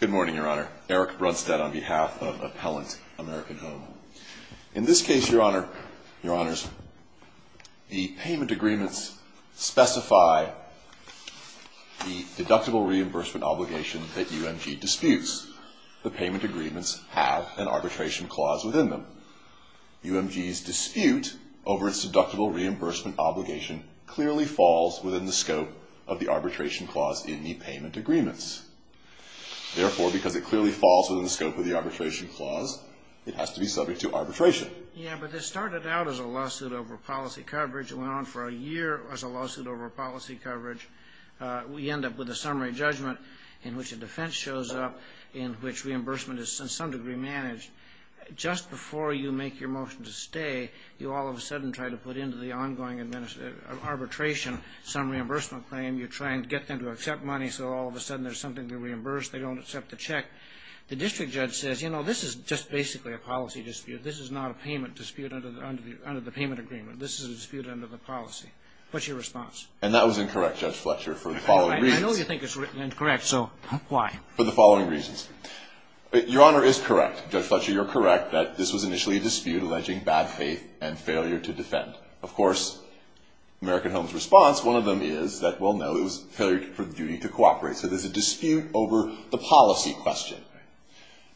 Good morning, Your Honor. Eric Brunstad on behalf of Appellant American Home. In this case, Your Honors, the payment agreements specify the deductible reimbursement obligation that UMG disputes. The payment agreements have an arbitration clause within them. UMG's dispute over its deductible reimbursement obligation clearly falls within the scope of the arbitration clause in the payment agreements. Therefore, because it clearly falls within the scope of the arbitration clause, it has to be subject to arbitration. Yeah, but this started out as a lawsuit over policy coverage and went on for a year as a lawsuit over policy coverage. We end up with a summary judgment in which a defense shows up in which reimbursement is to some degree managed. Just before you make your motion to stay, you all of a sudden try to put into the ongoing arbitration some reimbursement claim. You try and get them to accept money, so all of a sudden there's something to reimburse. They don't accept the check. The district judge says, you know, this is just basically a policy dispute. This is not a payment dispute under the payment agreement. This is a dispute under the policy. What's your response? And that was incorrect, Judge Fletcher, for the following reasons. I know you think it's incorrect, so why? For the following reasons. Your Honor is correct. Judge Fletcher, you're correct that this was initially a dispute alleging bad faith and failure to defend. Of course, American Home's response, one of them is that, well, no, it was a failure for the duty to cooperate. So there's a dispute over the policy question.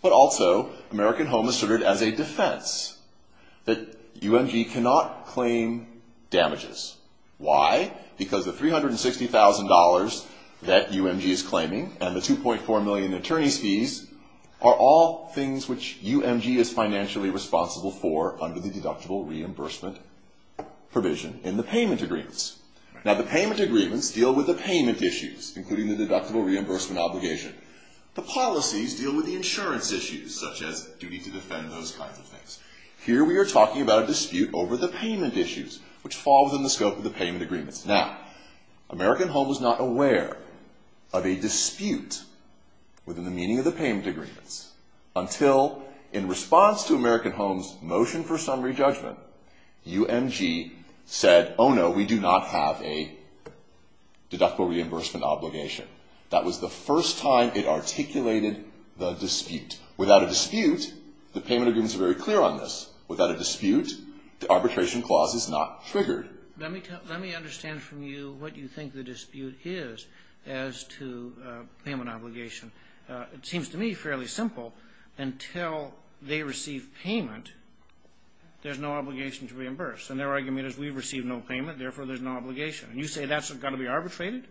But also, American Home asserted as a defense that UMG cannot claim damages. Why? Because the $360,000 that UMG is claiming and the 2.4 million attorney's fees are all things which UMG is financially responsible for under the deductible reimbursement provision in the payment agreements. Now, the payment agreements deal with the payment issues, including the deductible reimbursement obligation. The policies deal with the insurance issues, such as duty to defend, those kinds of things. Here we are talking about a dispute over the payment issues, which fall within the scope of the payment agreements. Now, American Home was not aware of a dispute within the meaning of the payment agreements until, in response to American Home's motion for summary judgment, UMG said, oh, no, we do not have a deductible reimbursement obligation. That was the first time it articulated the dispute. Without a dispute, the payment agreements are very clear on this. Without a dispute, the arbitration clause is not triggered. Let me understand from you what you think the dispute is as to payment obligation. It seems to me fairly simple. Until they receive payment, there's no obligation to reimburse. And their argument is we receive no payment, therefore there's no obligation. And you say that's got to be arbitrated?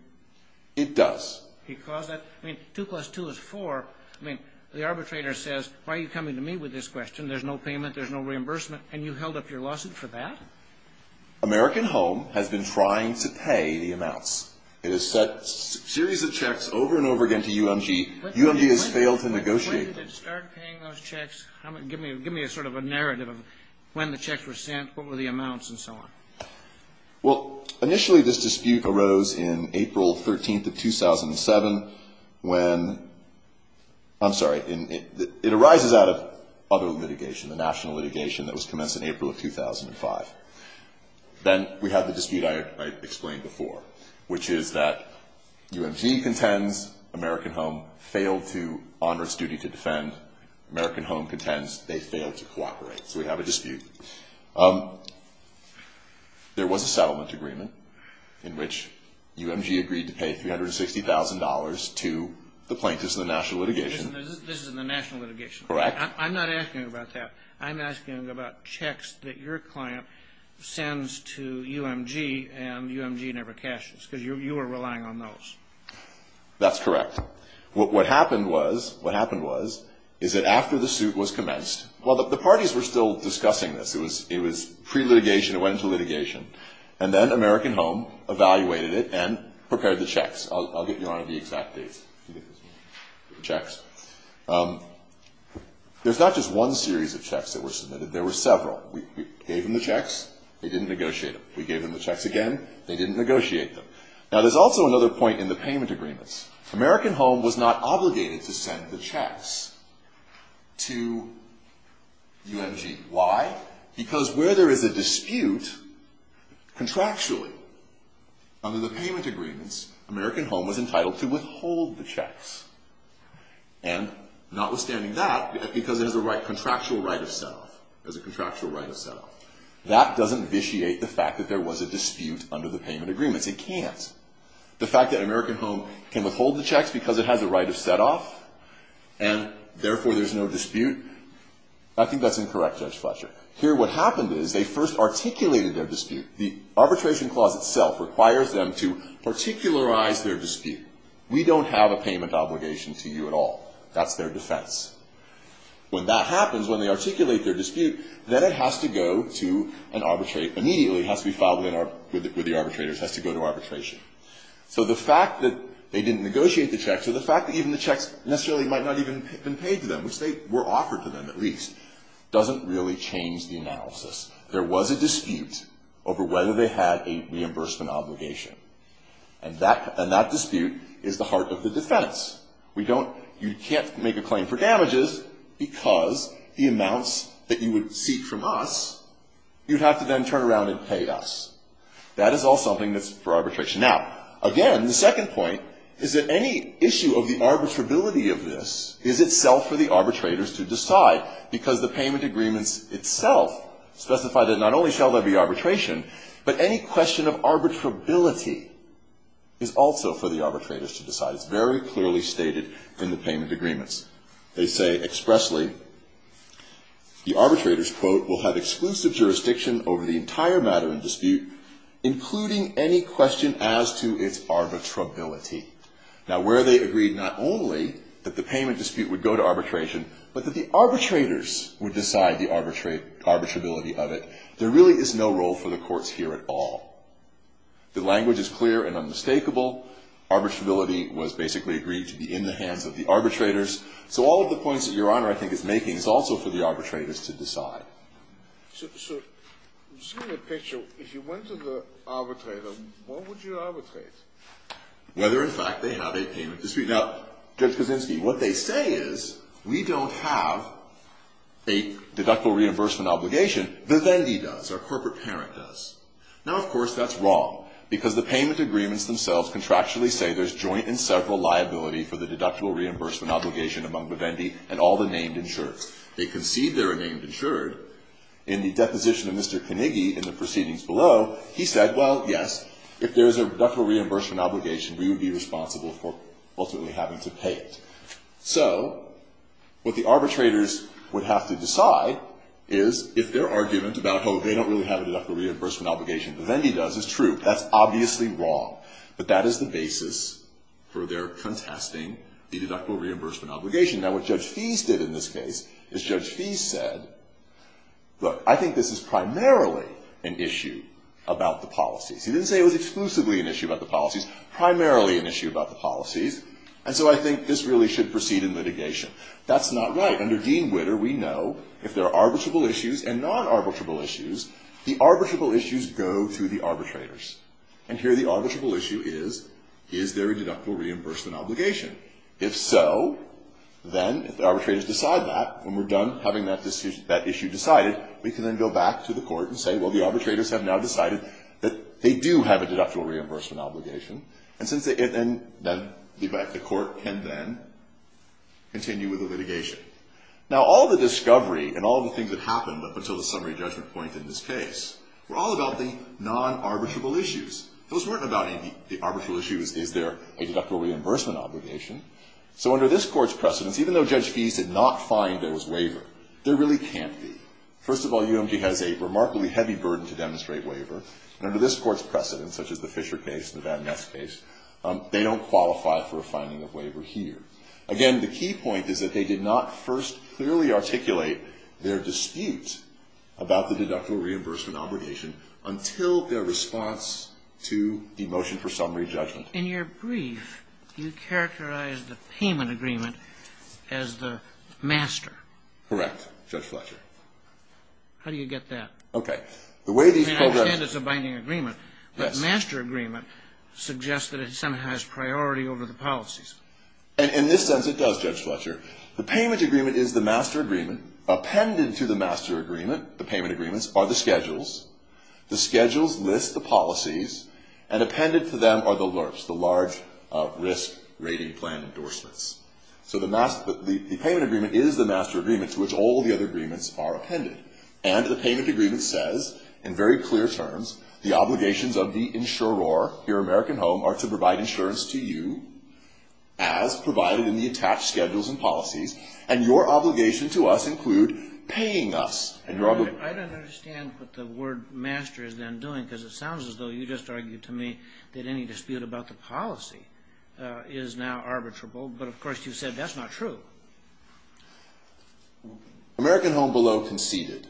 It does. Because that – I mean, 2 plus 2 is 4. I mean, the arbitrator says, why are you coming to me with this question? There's no payment. There's no reimbursement. And you held up your lawsuit for that? American Home has been trying to pay the amounts. It has sent a series of checks over and over again to UMG. UMG has failed to negotiate. When did it start paying those checks? Give me a sort of a narrative of when the checks were sent, what were the amounts, and so on. Well, initially this dispute arose in April 13th of 2007 when – I'm sorry. It arises out of other litigation, the national litigation that was commenced in April of 2005. Then we have the dispute I explained before, which is that UMG contends American Home failed to honor its duty to defend. American Home contends they failed to cooperate. So we have a dispute. There was a settlement agreement in which UMG agreed to pay $360,000 to the plaintiffs in the national litigation. This is in the national litigation. Correct. I'm not asking about that. I'm asking about checks that your client sends to UMG and UMG never cashes because you were relying on those. That's correct. What happened was is that after the suit was commenced – well, the parties were still discussing this. It was pre-litigation. And then American Home evaluated it and prepared the checks. I'll get you on the exact dates. The checks. There's not just one series of checks that were submitted. There were several. We gave them the checks. They didn't negotiate them. We gave them the checks again. They didn't negotiate them. Now, there's also another point in the payment agreements. American Home was not obligated to send the checks to UMG. Why? Because where there is a dispute, contractually, under the payment agreements, American Home was entitled to withhold the checks. And notwithstanding that, because it has a contractual right of set-off. It has a contractual right of set-off. That doesn't vitiate the fact that there was a dispute under the payment agreements. It can't. The fact that American Home can withhold the checks because it has a right of set-off, and therefore there's no dispute, I think that's incorrect, Judge Fletcher. Here, what happened is they first articulated their dispute. The arbitration clause itself requires them to particularize their dispute. We don't have a payment obligation to you at all. That's their defense. When that happens, when they articulate their dispute, then it has to go to an arbitrate. Immediately, it has to be filed with the arbitrators. It has to go to arbitration. So the fact that they didn't negotiate the checks, or the fact that even the checks necessarily might not even have been paid to them, which they were offered to them, at least, doesn't really change the analysis. There was a dispute over whether they had a reimbursement obligation. And that dispute is the heart of the defense. You can't make a claim for damages because the amounts that you would seek from us, you'd have to then turn around and pay us. That is all something that's for arbitration. Now, again, the second point is that any issue of the arbitrability of this is itself for the arbitrators to decide, because the payment agreements itself specify that not only shall there be arbitration, but any question of arbitrability is also for the arbitrators to decide. It's very clearly stated in the payment agreements. Now, where they agreed not only that the payment dispute would go to arbitration, but that the arbitrators would decide the arbitrability of it, there really is no role for the courts here at all. The language is clear and unmistakable. Arbitrability was basically agreed to be in the hands of the arbitrators. So all of the points that Your Honor, I think, is making is also for the arbitrators to decide. So just give me a picture. If you went to the arbitrator, what would you arbitrate? Whether, in fact, they have a payment dispute. Now, Judge Kaczynski, what they say is we don't have a deductible reimbursement obligation. Vivendi does. Our corporate parent does. Now, of course, that's wrong, because the payment agreements themselves contractually say there's joint and several liability for the deductible reimbursement obligation among Vivendi and all the named insured. They concede they're a named insured. In the deposition of Mr. Carnegie in the proceedings below, he said, well, yes, if there's a deductible reimbursement obligation, we would be responsible for ultimately having to pay it. So what the arbitrators would have to decide is if their argument about, oh, they don't really have a deductible reimbursement obligation, Vivendi does, is true. That's obviously wrong. But that is the basis for their contesting the deductible reimbursement obligation. Now, what Judge Fies did in this case is Judge Fies said, look, I think this is primarily an issue about the policies. He didn't say it was exclusively an issue about the policies, primarily an issue about the policies, and so I think this really should proceed in litigation. That's not right. Under Dean Witter, we know if there are arbitrable issues and non-arbitrable issues, the arbitrable issues go to the arbitrators. And here the arbitrable issue is, is there a deductible reimbursement obligation? If so, then if the arbitrators decide that, when we're done having that issue decided, we can then go back to the court and say, well, the arbitrators have now decided that they do have a deductible reimbursement obligation. And since they, and then the court can then continue with the litigation. Now, all the discovery and all the things that happened up until the summary judgment point in this case were all about the non-arbitrable issues. Those weren't about the arbitral issues. Is there a deductible reimbursement obligation? So under this court's precedence, even though Judge Fies did not find there was waiver, there really can't be. First of all, UMG has a remarkably heavy burden to demonstrate waiver, and under this court's precedence, such as the Fisher case and the Van Ness case, they don't qualify for a finding of waiver here. Again, the key point is that they did not first clearly articulate their dispute about the deductible reimbursement obligation until their response to the motion for summary judgment. In your brief, you characterized the payment agreement as the master. Correct, Judge Fletcher. How do you get that? Okay. I understand it's a binding agreement. Yes. But master agreement suggests that it somehow has priority over the policies. In this sense, it does, Judge Fletcher. The payment agreement is the master agreement. Appended to the master agreement, the payment agreements, are the schedules. The schedules list the policies, and appended to them are the LRPS, the large risk rating plan endorsements. So the payment agreement is the master agreement to which all the other agreements are appended. And the payment agreement says in very clear terms, the obligations of the insurer, your American home, are to provide insurance to you as provided in the attached schedules and policies, and your obligation to us include paying us. I don't understand what the word master is then doing, because it sounds as though you just argued to me that any dispute about the policy is now arbitrable. But, of course, you said that's not true. American Home Below conceded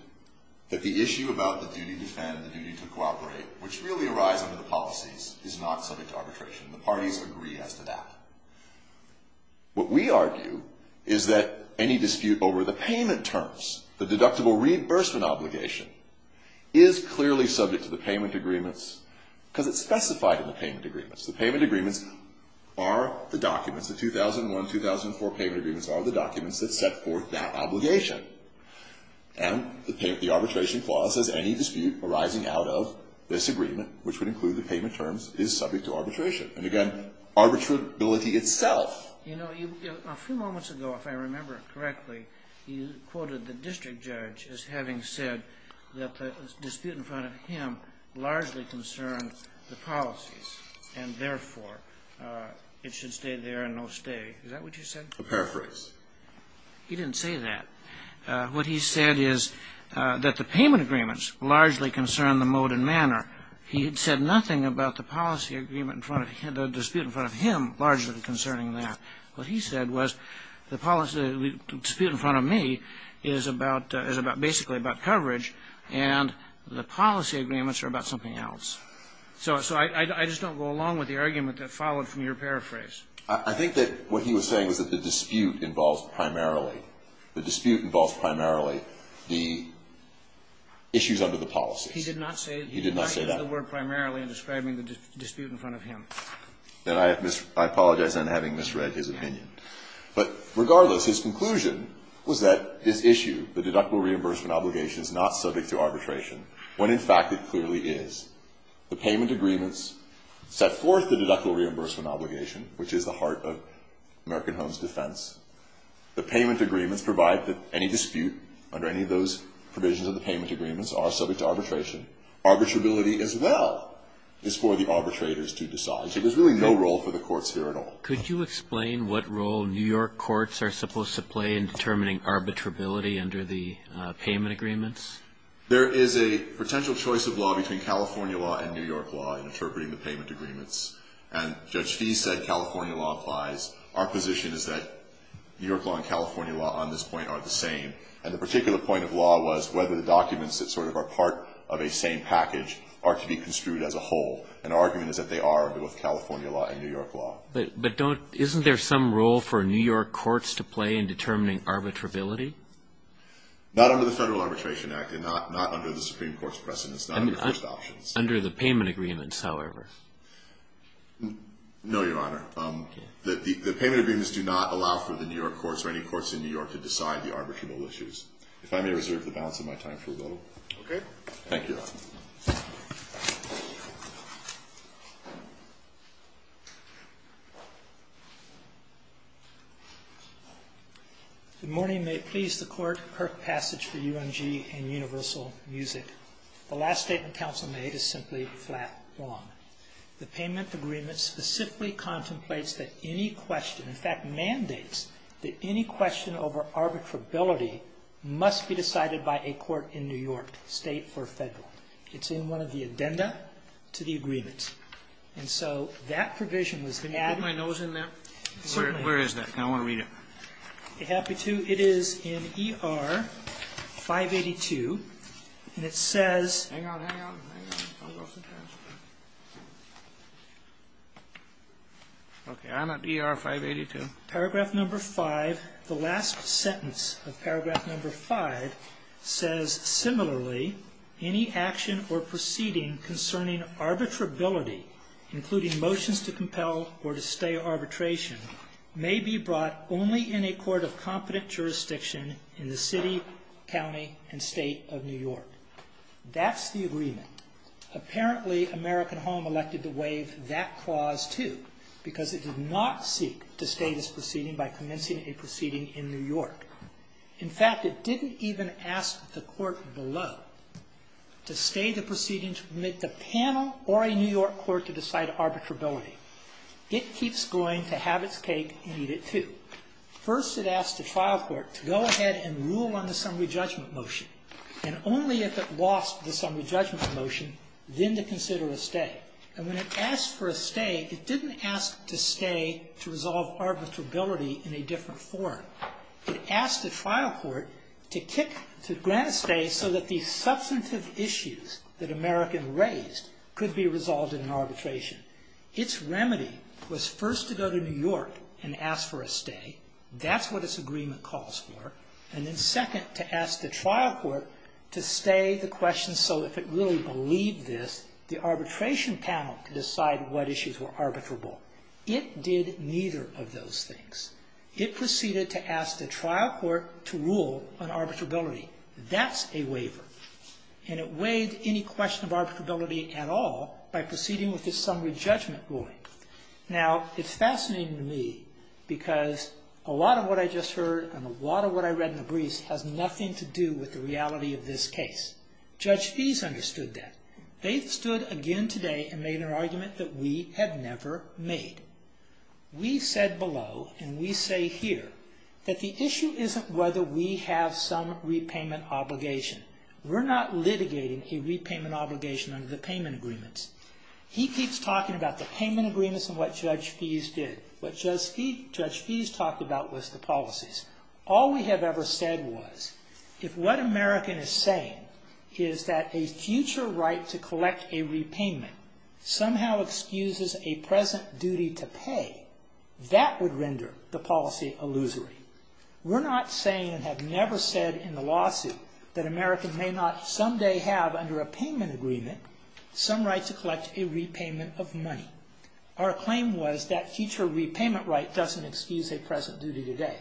that the issue about the duty to defend, the duty to cooperate, which really arise under the policies, is not subject to arbitration. The parties agree as to that. What we argue is that any dispute over the payment terms, the deductible reimbursement obligation, is clearly subject to the payment agreements, because it's specified in the payment agreements. The payment agreements are the documents, the 2001-2004 payment agreements, are the documents that set forth that obligation. And the arbitration clause says any dispute arising out of this agreement, which would include the payment terms, is subject to arbitration. And, again, arbitrability itself. You know, a few moments ago, if I remember correctly, you quoted the district judge as having said that the dispute in front of him largely concerned the policies, and therefore it should stay there and no stay. Is that what you said? A paraphrase. He didn't say that. What he said is that the payment agreements largely concern the mode and manner. He had said nothing about the policy agreement in front of him, the dispute in front of him, largely concerning that. What he said was the dispute in front of me is basically about coverage, and the policy agreements are about something else. So I just don't go along with the argument that followed from your paraphrase. I think that what he was saying was that the dispute involves primarily the issues under the policies. He did not say that. He did not use the word primarily in describing the dispute in front of him. And I apologize, then, for having misread his opinion. But regardless, his conclusion was that this issue, the deductible reimbursement obligation, is not subject to arbitration, when in fact it clearly is. The payment agreements set forth the deductible reimbursement obligation, which is the heart of American Homes' defense. The payment agreements provide that any dispute under any of those provisions of the payment agreements are subject to arbitration. Arbitrability, as well, is for the arbitrators to decide. So there's really no role for the courts here at all. Could you explain what role New York courts are supposed to play in determining arbitrability under the payment agreements? There is a potential choice of law between California law and New York law in interpreting the payment agreements. And Judge Fee said California law applies. Our position is that New York law and California law on this point are the same. And the particular point of law was whether the documents that sort of are part of a same package are to be construed as a whole. And our argument is that they are under both California law and New York law. But isn't there some role for New York courts to play in determining arbitrability? Not under the Federal Arbitration Act and not under the Supreme Court's precedents, not under the first options. Under the payment agreements, however. No, Your Honor. The payment agreements do not allow for the New York courts or any courts in New York to intervene in the balance of my time. Thank you, Your Honor. Good morning. May it please the Court, Kirk Passage for UMG and Universal Music. The last statement counsel made is simply flat wrong. It must be decided by a court in New York, State or Federal. It's in one of the addenda to the agreement. And so that provision was added. Can I put my nose in there? Certainly. Where is that? I want to read it. Be happy to. It is in ER 582. And it says. Hang on, hang on, hang on. Okay. I'm at ER 582. Paragraph number five. The last sentence of paragraph number five says, similarly, any action or proceeding concerning arbitrability, including motions to compel or to stay arbitration, may be brought only in a court of competent jurisdiction in the city, county, and state of New York. That's the agreement. Apparently, American Home elected to waive that clause, too, because it did not seek to stay this proceeding by commencing a proceeding in New York. In fact, it didn't even ask the court below to stay the proceeding to permit the panel or a New York court to decide arbitrability. It keeps going to have its cake and eat it, too. First, it asked the trial court to go ahead and rule on the summary judgment motion. And only if it lost the summary judgment motion, then to consider a stay. And when it asked for a stay, it didn't ask to stay to resolve arbitrability in a different form. It asked the trial court to kick, to grant a stay so that the substantive issues that American raised could be resolved in an arbitration. Its remedy was first to go to New York and ask for a stay. That's what its agreement calls for. And then second, to ask the trial court to stay the question so if it really believed this, the arbitration panel could decide what issues were arbitrable. It did neither of those things. It proceeded to ask the trial court to rule on arbitrability. That's a waiver. And it weighed any question of arbitrability at all by proceeding with the summary judgment ruling. Now, it's fascinating to me because a lot of what I just heard and a lot of what I read in the briefs has nothing to do with the reality of this case. Judge Fees understood that. They stood again today and made an argument that we have never made. We said below and we say here that the issue isn't whether we have some repayment obligation. We're not litigating a repayment obligation under the payment agreements. He keeps talking about the payment agreements and what Judge Fees did. What Judge Fees talked about was the policies. All we have ever said was if what American is saying is that a future right to collect a repayment somehow excuses a present duty to pay, that would render the policy illusory. We're not saying and have never said in the lawsuit that American may not someday have under a payment agreement some right to collect a repayment of money. Our claim was that future repayment right doesn't excuse a present duty today.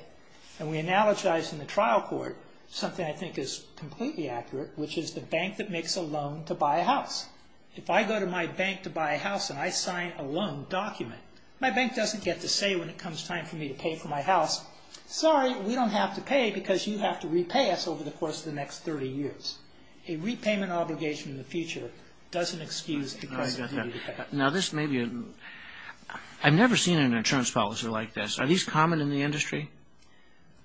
And we analogize in the trial court something I think is completely accurate, which is the bank that makes a loan to buy a house. If I go to my bank to buy a house and I sign a loan document, my bank doesn't get to say when it comes time for me to pay for my house, sorry, we don't have to pay because you have to repay us over the course of the next 30 years. A repayment obligation in the future doesn't excuse a present duty to pay. I've never seen an insurance policy like this. Are these common in the industry?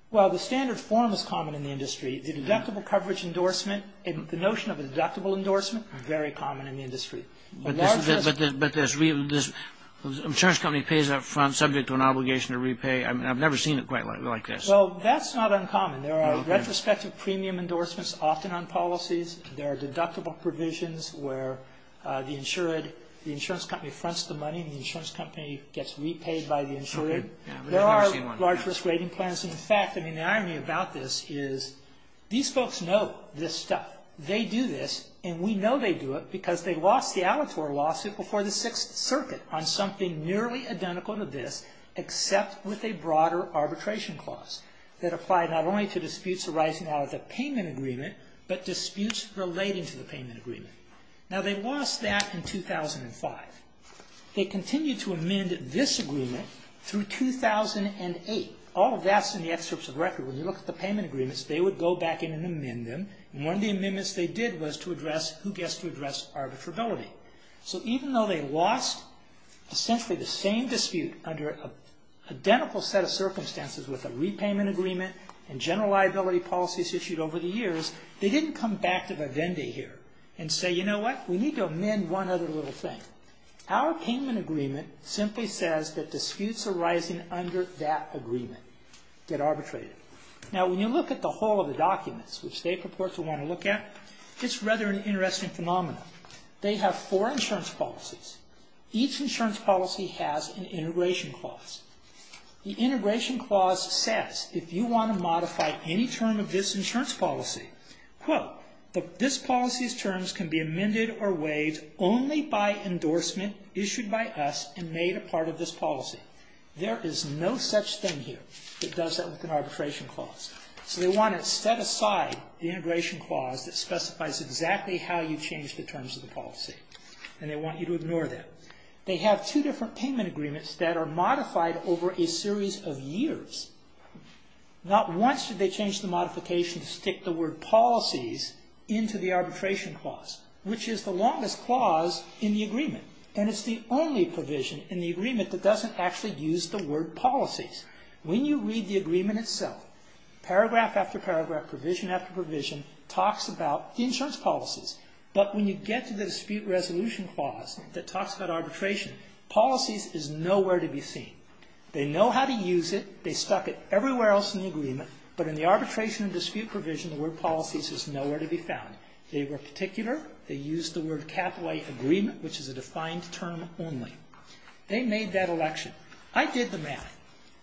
Well, the standard form is common in the industry. The deductible coverage endorsement, the notion of a deductible endorsement, very common in the industry. But this insurance company pays up front subject to an obligation to repay. I've never seen it quite like this. Well, that's not uncommon. There are retrospective premium endorsements often on policies. There are deductible provisions where the insurance company fronts the money and the insurance company gets repaid by the insurer. There are large risk rating plans. In fact, the irony about this is these folks know this stuff. They do this, and we know they do it because they lost the Alator lawsuit before the Sixth Circuit on something nearly identical to this except with a broader arbitration clause that applied not only to disputes arising out of the payment agreement but disputes relating to the payment agreement. Now, they lost that in 2005. They continued to amend this agreement through 2008. All of that's in the excerpts of record. When you look at the payment agreements, they would go back in and amend them, and one of the amendments they did was to address who gets to address arbitrability. So even though they lost essentially the same dispute under an identical set of circumstances with a repayment agreement and general liability policies issued over the years, they didn't come back to the vendee here and say, you know what, we need to amend one other little thing. Our payment agreement simply says that disputes arising under that agreement get arbitrated. Now, when you look at the whole of the documents, which they purport to want to look at, it's rather an interesting phenomenon. They have four insurance policies. Each insurance policy has an integration clause. The integration clause says if you want to modify any term of this insurance policy, quote, this policy's terms can be amended or waived only by endorsement issued by us and made a part of this policy. There is no such thing here that does that with an arbitration clause. So they want to set aside the integration clause that specifies exactly how you change the terms of the policy, and they want you to ignore that. They have two different payment agreements that are modified over a series of years. Not once did they change the modification to stick the word policies into the arbitration clause, which is the longest clause in the agreement, and it's the only provision in the agreement that doesn't actually use the word policies. When you read the agreement itself, paragraph after paragraph, provision after provision, talks about insurance policies, but when you get to the dispute resolution clause that talks about arbitration, policies is nowhere to be seen. They know how to use it. They stuck it everywhere else in the agreement, but in the arbitration and dispute provision, the word policies is nowhere to be found. They were particular. They used the word capital agreement, which is a defined term only. They made that election. I did the math.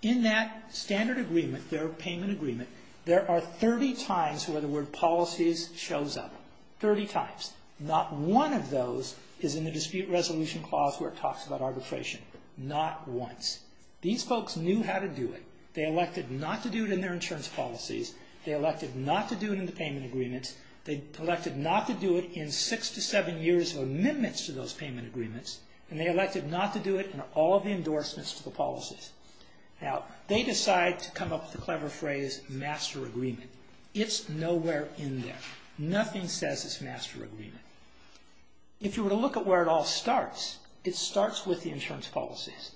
In that standard agreement, their payment agreement, there are 30 times where the word policies shows up. Thirty times. Not one of those is in the dispute resolution clause where it talks about arbitration. Not once. These folks knew how to do it. They elected not to do it in their insurance policies. They elected not to do it in the payment agreements. They elected not to do it in six to seven years of amendments to those payment agreements, and they elected not to do it in all the endorsements to the policies. Now, they decide to come up with the clever phrase master agreement. It's nowhere in there. Nothing says it's master agreement. If you were to look at where it all starts, it starts with the insurance policies.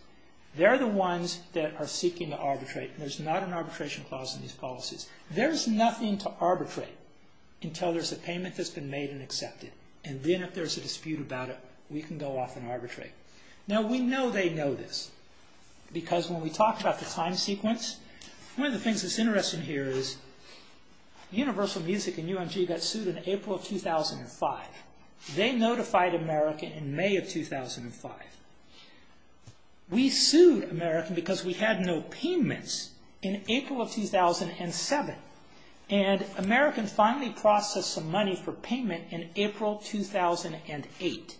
They're the ones that are seeking to arbitrate. There's not an arbitration clause in these policies. There's nothing to arbitrate until there's a payment that's been made and accepted, and then if there's a dispute about it, we can go off and arbitrate. Now, we know they know this because when we talked about the time sequence, one of the things that's interesting here is Universal Music and UMG got sued in April of 2005. They notified America in May of 2005. We sued America because we had no payments in April of 2007, and America finally processed some money for payment in April 2008.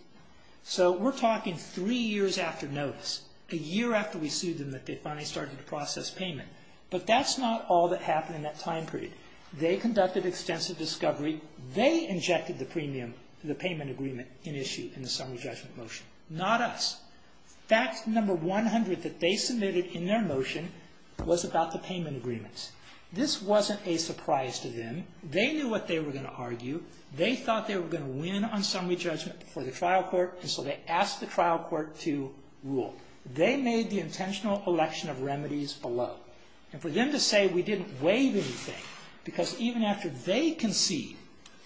So we're talking three years after notice, a year after we sued them that they finally started to process payment, but that's not all that happened in that time period. They conducted extensive discovery. They injected the premium to the payment agreement in issue in the summary judgment motion, not us. Fact number 100 that they submitted in their motion was about the payment agreements. This wasn't a surprise to them. They knew what they were going to argue. They thought they were going to win on summary judgment before the trial court, and so they asked the trial court to rule. They made the intentional election of remedies below, and for them to say we didn't waive anything, because even after they conceded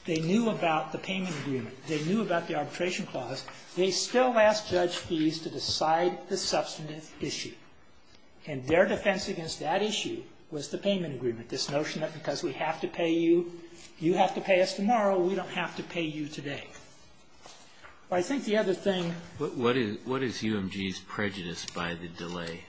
they knew about the payment agreement, they knew about the arbitration clause, they still asked Judge Fies to decide the substantive issue, and their defense against that issue was the payment agreement, this notion that because we have to pay you, you have to pay us tomorrow, we don't have to pay you today. I think the other thing. What is UMG's prejudice by the delay?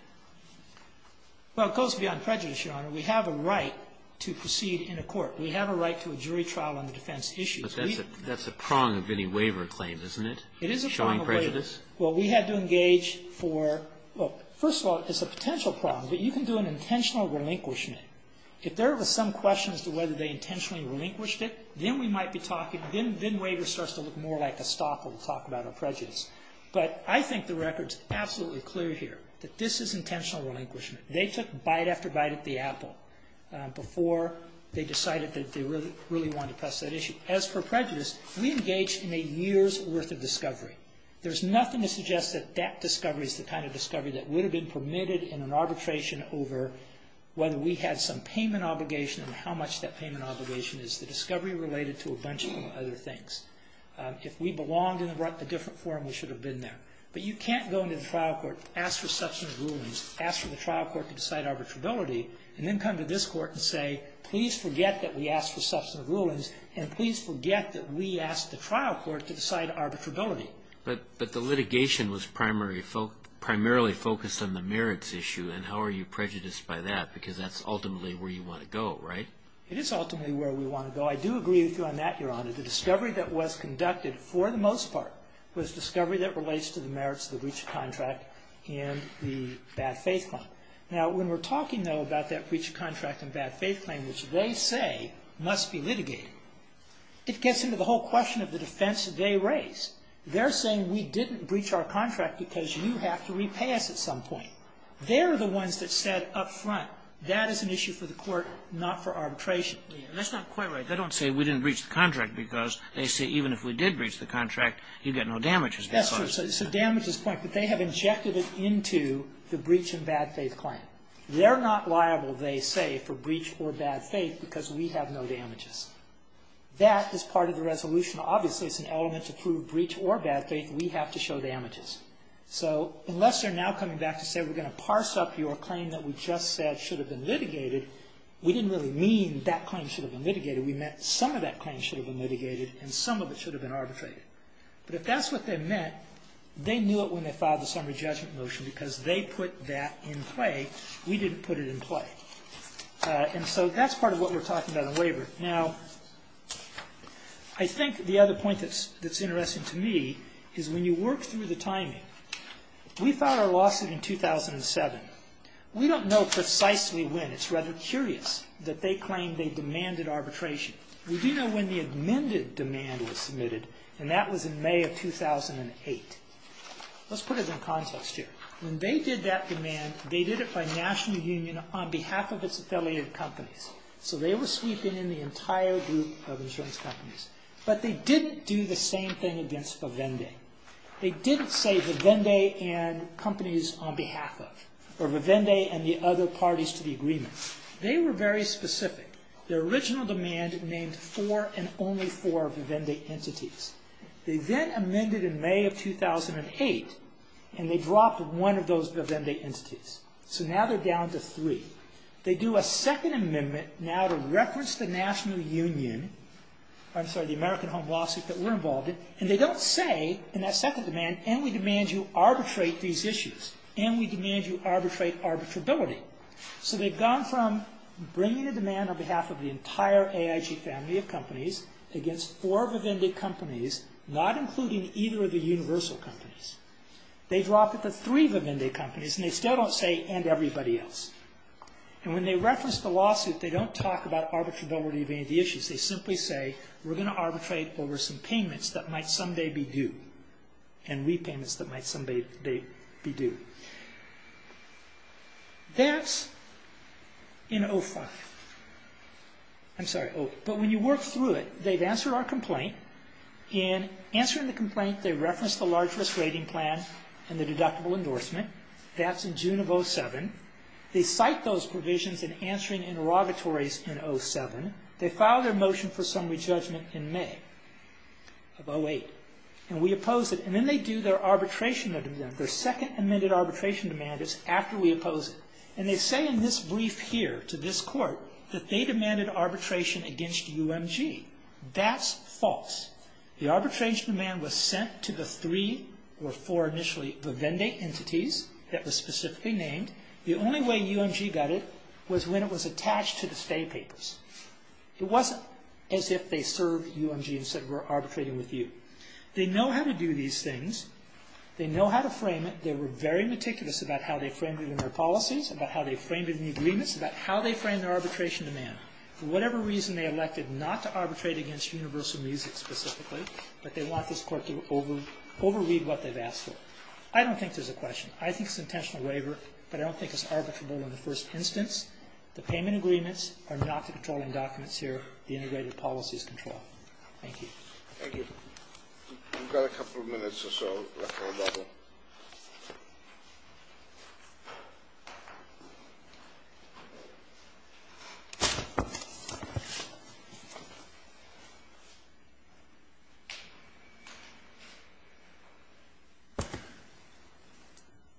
Well, it goes beyond prejudice, Your Honor. We have a right to proceed in a court. We have a right to a jury trial on the defense issue. But that's a prong of any waiver claim, isn't it? It is a prong of waiver. Showing prejudice? Well, we had to engage for, well, first of all, it's a potential prong, but you can do an intentional relinquishment. If there was some question as to whether they intentionally relinquished it, then we might be talking, then waiver starts to look more like a stop and we'll talk about our prejudice. But I think the record's absolutely clear here that this is intentional relinquishment. They took bite after bite at the apple before they decided that they really wanted to press that issue. As for prejudice, we engaged in a year's worth of discovery. There's nothing to suggest that that discovery is the kind of discovery that would have been permitted in an arbitration over whether we had some payment obligation and how much that payment obligation is. It's a discovery related to a bunch of other things. If we belonged in a different forum, we should have been there. But you can't go into the trial court, ask for substantive rulings, ask for the trial court to decide arbitrability, and then come to this court and say, please forget that we asked for substantive rulings and please forget that we asked the trial court to decide arbitrability. But the litigation was primarily focused on the merits issue, and how are you prejudiced by that? Because that's ultimately where you want to go, right? It is ultimately where we want to go. I do agree with you on that, Your Honor. The discovery that was conducted, for the most part, was discovery that relates to the merits of the breach of contract and the bad faith claim. Now, when we're talking, though, about that breach of contract and bad faith claim, which they say must be litigated, it gets into the whole question of the defense they raise. They're saying we didn't breach our contract because you have to repay us at some point. They're the ones that said up front, that is an issue for the court, not for arbitration. Sotomayor, that's not quite right. They don't say we didn't breach the contract because they say even if we did breach the contract, you'd get no damages. That's true. So damages point. But they have injected it into the breach and bad faith claim. They're not liable, they say, for breach or bad faith because we have no damages. That is part of the resolution. Obviously, it's an element to prove breach or bad faith. We have to show damages. So unless they're now coming back to say we're going to parse up your claim that we just said should have been litigated, we didn't really mean that claim should have been litigated. We meant some of that claim should have been litigated and some of it should have been arbitrated. But if that's what they meant, they knew it when they filed the summary judgment motion because they put that in play. We didn't put it in play. And so that's part of what we're talking about in waiver. Now, I think the other point that's interesting to me is when you work through the timing, we filed our lawsuit in 2007. We don't know precisely when. It's rather curious that they claim they demanded arbitration. We do know when the amended demand was submitted, and that was in May of 2008. Let's put it in context here. When they did that demand, they did it by national union on behalf of its affiliated companies. So they were sweeping in the entire group of insurance companies. But they didn't do the same thing against Vivendi. They didn't say Vivendi and companies on behalf of, or Vivendi and the other parties to the agreement. They were very specific. Their original demand named four and only four Vivendi entities. They then amended in May of 2008, and they dropped one of those Vivendi entities. So now they're down to three. They do a second amendment now to reference the national union, I'm sorry, the American Home Lawsuit that we're involved in, and they don't say in that second demand, and we demand you arbitrate these issues, and we demand you arbitrate arbitrability. So they've gone from bringing a demand on behalf of the entire AIG family of companies against four Vivendi companies, not including either of the universal companies. They've dropped it to three Vivendi companies, and they still don't say, and everybody else. And when they reference the lawsuit, they don't talk about arbitrability of any of the issues. They simply say, we're going to arbitrate over some payments that might someday be due and repayments that might someday be due. That's in 05. I'm sorry, but when you work through it, they've answered our complaint. In answering the complaint, they reference the large risk rating plan and the deductible endorsement. That's in June of 07. They cite those provisions in answering interrogatories in 07. They file their motion for summary judgment in May of 08. And we oppose it. And then they do their arbitration. Their second amended arbitration demand is after we oppose it. And they say in this brief here to this court that they demanded arbitration against UMG. That's false. The arbitration demand was sent to the three or four initially Vivendi entities that were specifically named. The only way UMG got it was when it was attached to the state papers. It wasn't as if they served UMG and said we're arbitrating with you. They know how to do these things. They know how to frame it. They were very meticulous about how they framed it in their policies, about how they framed it in the agreements, about how they framed their arbitration demand. For whatever reason, they elected not to arbitrate against Universal Music specifically, but they want this court to overread what they've asked for. I don't think there's a question. I think it's an intentional waiver, but I don't think it's arbitrable in the first instance. The payment agreements are not the controlling documents here. The integrated policy is control. Thank you. Thank you. We've got a couple of minutes or so left on the bubble.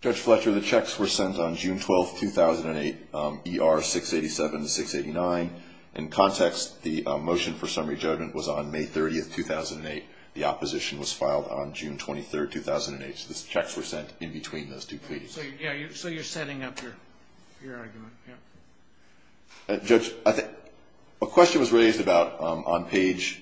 Judge Fletcher, the checks were sent on June 12th, 2008, ER 687 to 689. In context, the motion for summary judgment was on May 30th, 2008. The opposition was filed on June 23rd, 2008. So the checks were sent in between those two pleads. So you're setting up your argument. Yeah. Judge, a question was raised about on page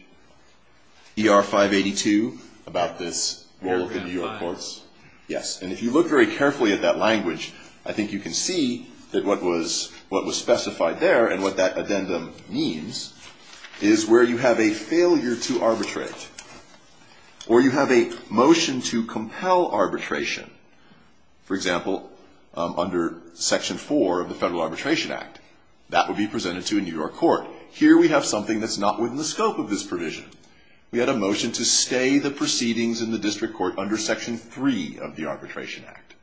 ER 582 about this role of the New York courts. Yes. And if you look very carefully at that language, I think you can see that what was specified there and what that addendum means is where you have a failure to arbitrate or you have a motion to compel arbitration. For example, under Section 4 of the Federal Arbitration Act, that would be presented to a New York court. Here we have something that's not within the scope of this provision. We had a motion to stay the proceedings in the district court under Section 3 of the Arbitration Act.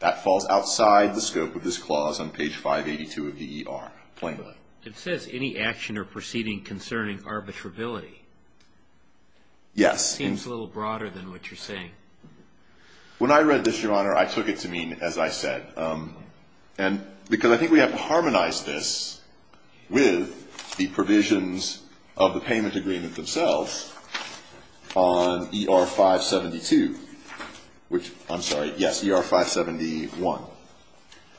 That falls outside the scope of this clause on page 582 of the ER plainly. It says any action or proceeding concerning arbitrability. Yes. It seems a little broader than what you're saying. When I read this, Your Honor, I took it to mean, as I said, and because I think we have to harmonize this with the provisions of the payment agreement themselves on ER 572, which, I'm sorry, yes, ER 571,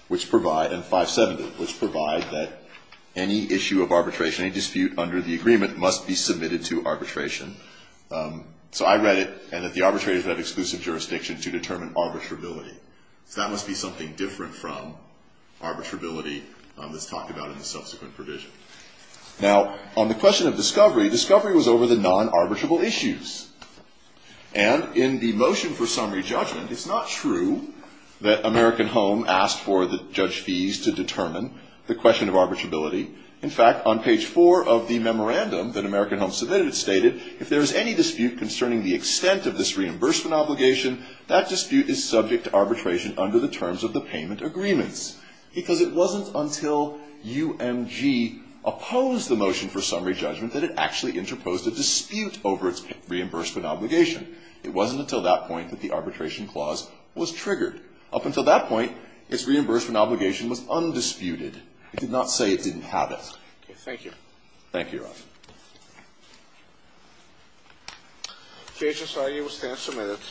which provide, and 570, which provide that any issue of arbitration, any dispute under the agreement must be submitted to arbitration. So I read it and that the arbitrators have exclusive jurisdiction to determine arbitrability. So that must be something different from arbitrability that's talked about in the subsequent provision. Now, on the question of discovery, discovery was over the non-arbitrable issues. And in the motion for summary judgment, it's not true that American Home asked for the judge fees to determine the question of arbitrability. In fact, on page 4 of the memorandum that American Home submitted, it stated if there is any dispute concerning the extent of this reimbursement obligation, that dispute is subject to arbitration under the terms of the payment agreements. Because it wasn't until UMG opposed the motion for summary judgment that it actually interposed a dispute over its reimbursement obligation. It wasn't until that point that the arbitration clause was triggered. Up until that point, its reimbursement obligation was undisputed. It did not say it didn't have it. Okay, thank you. Thank you, Your Honor. The Asian Society will stand for a minute.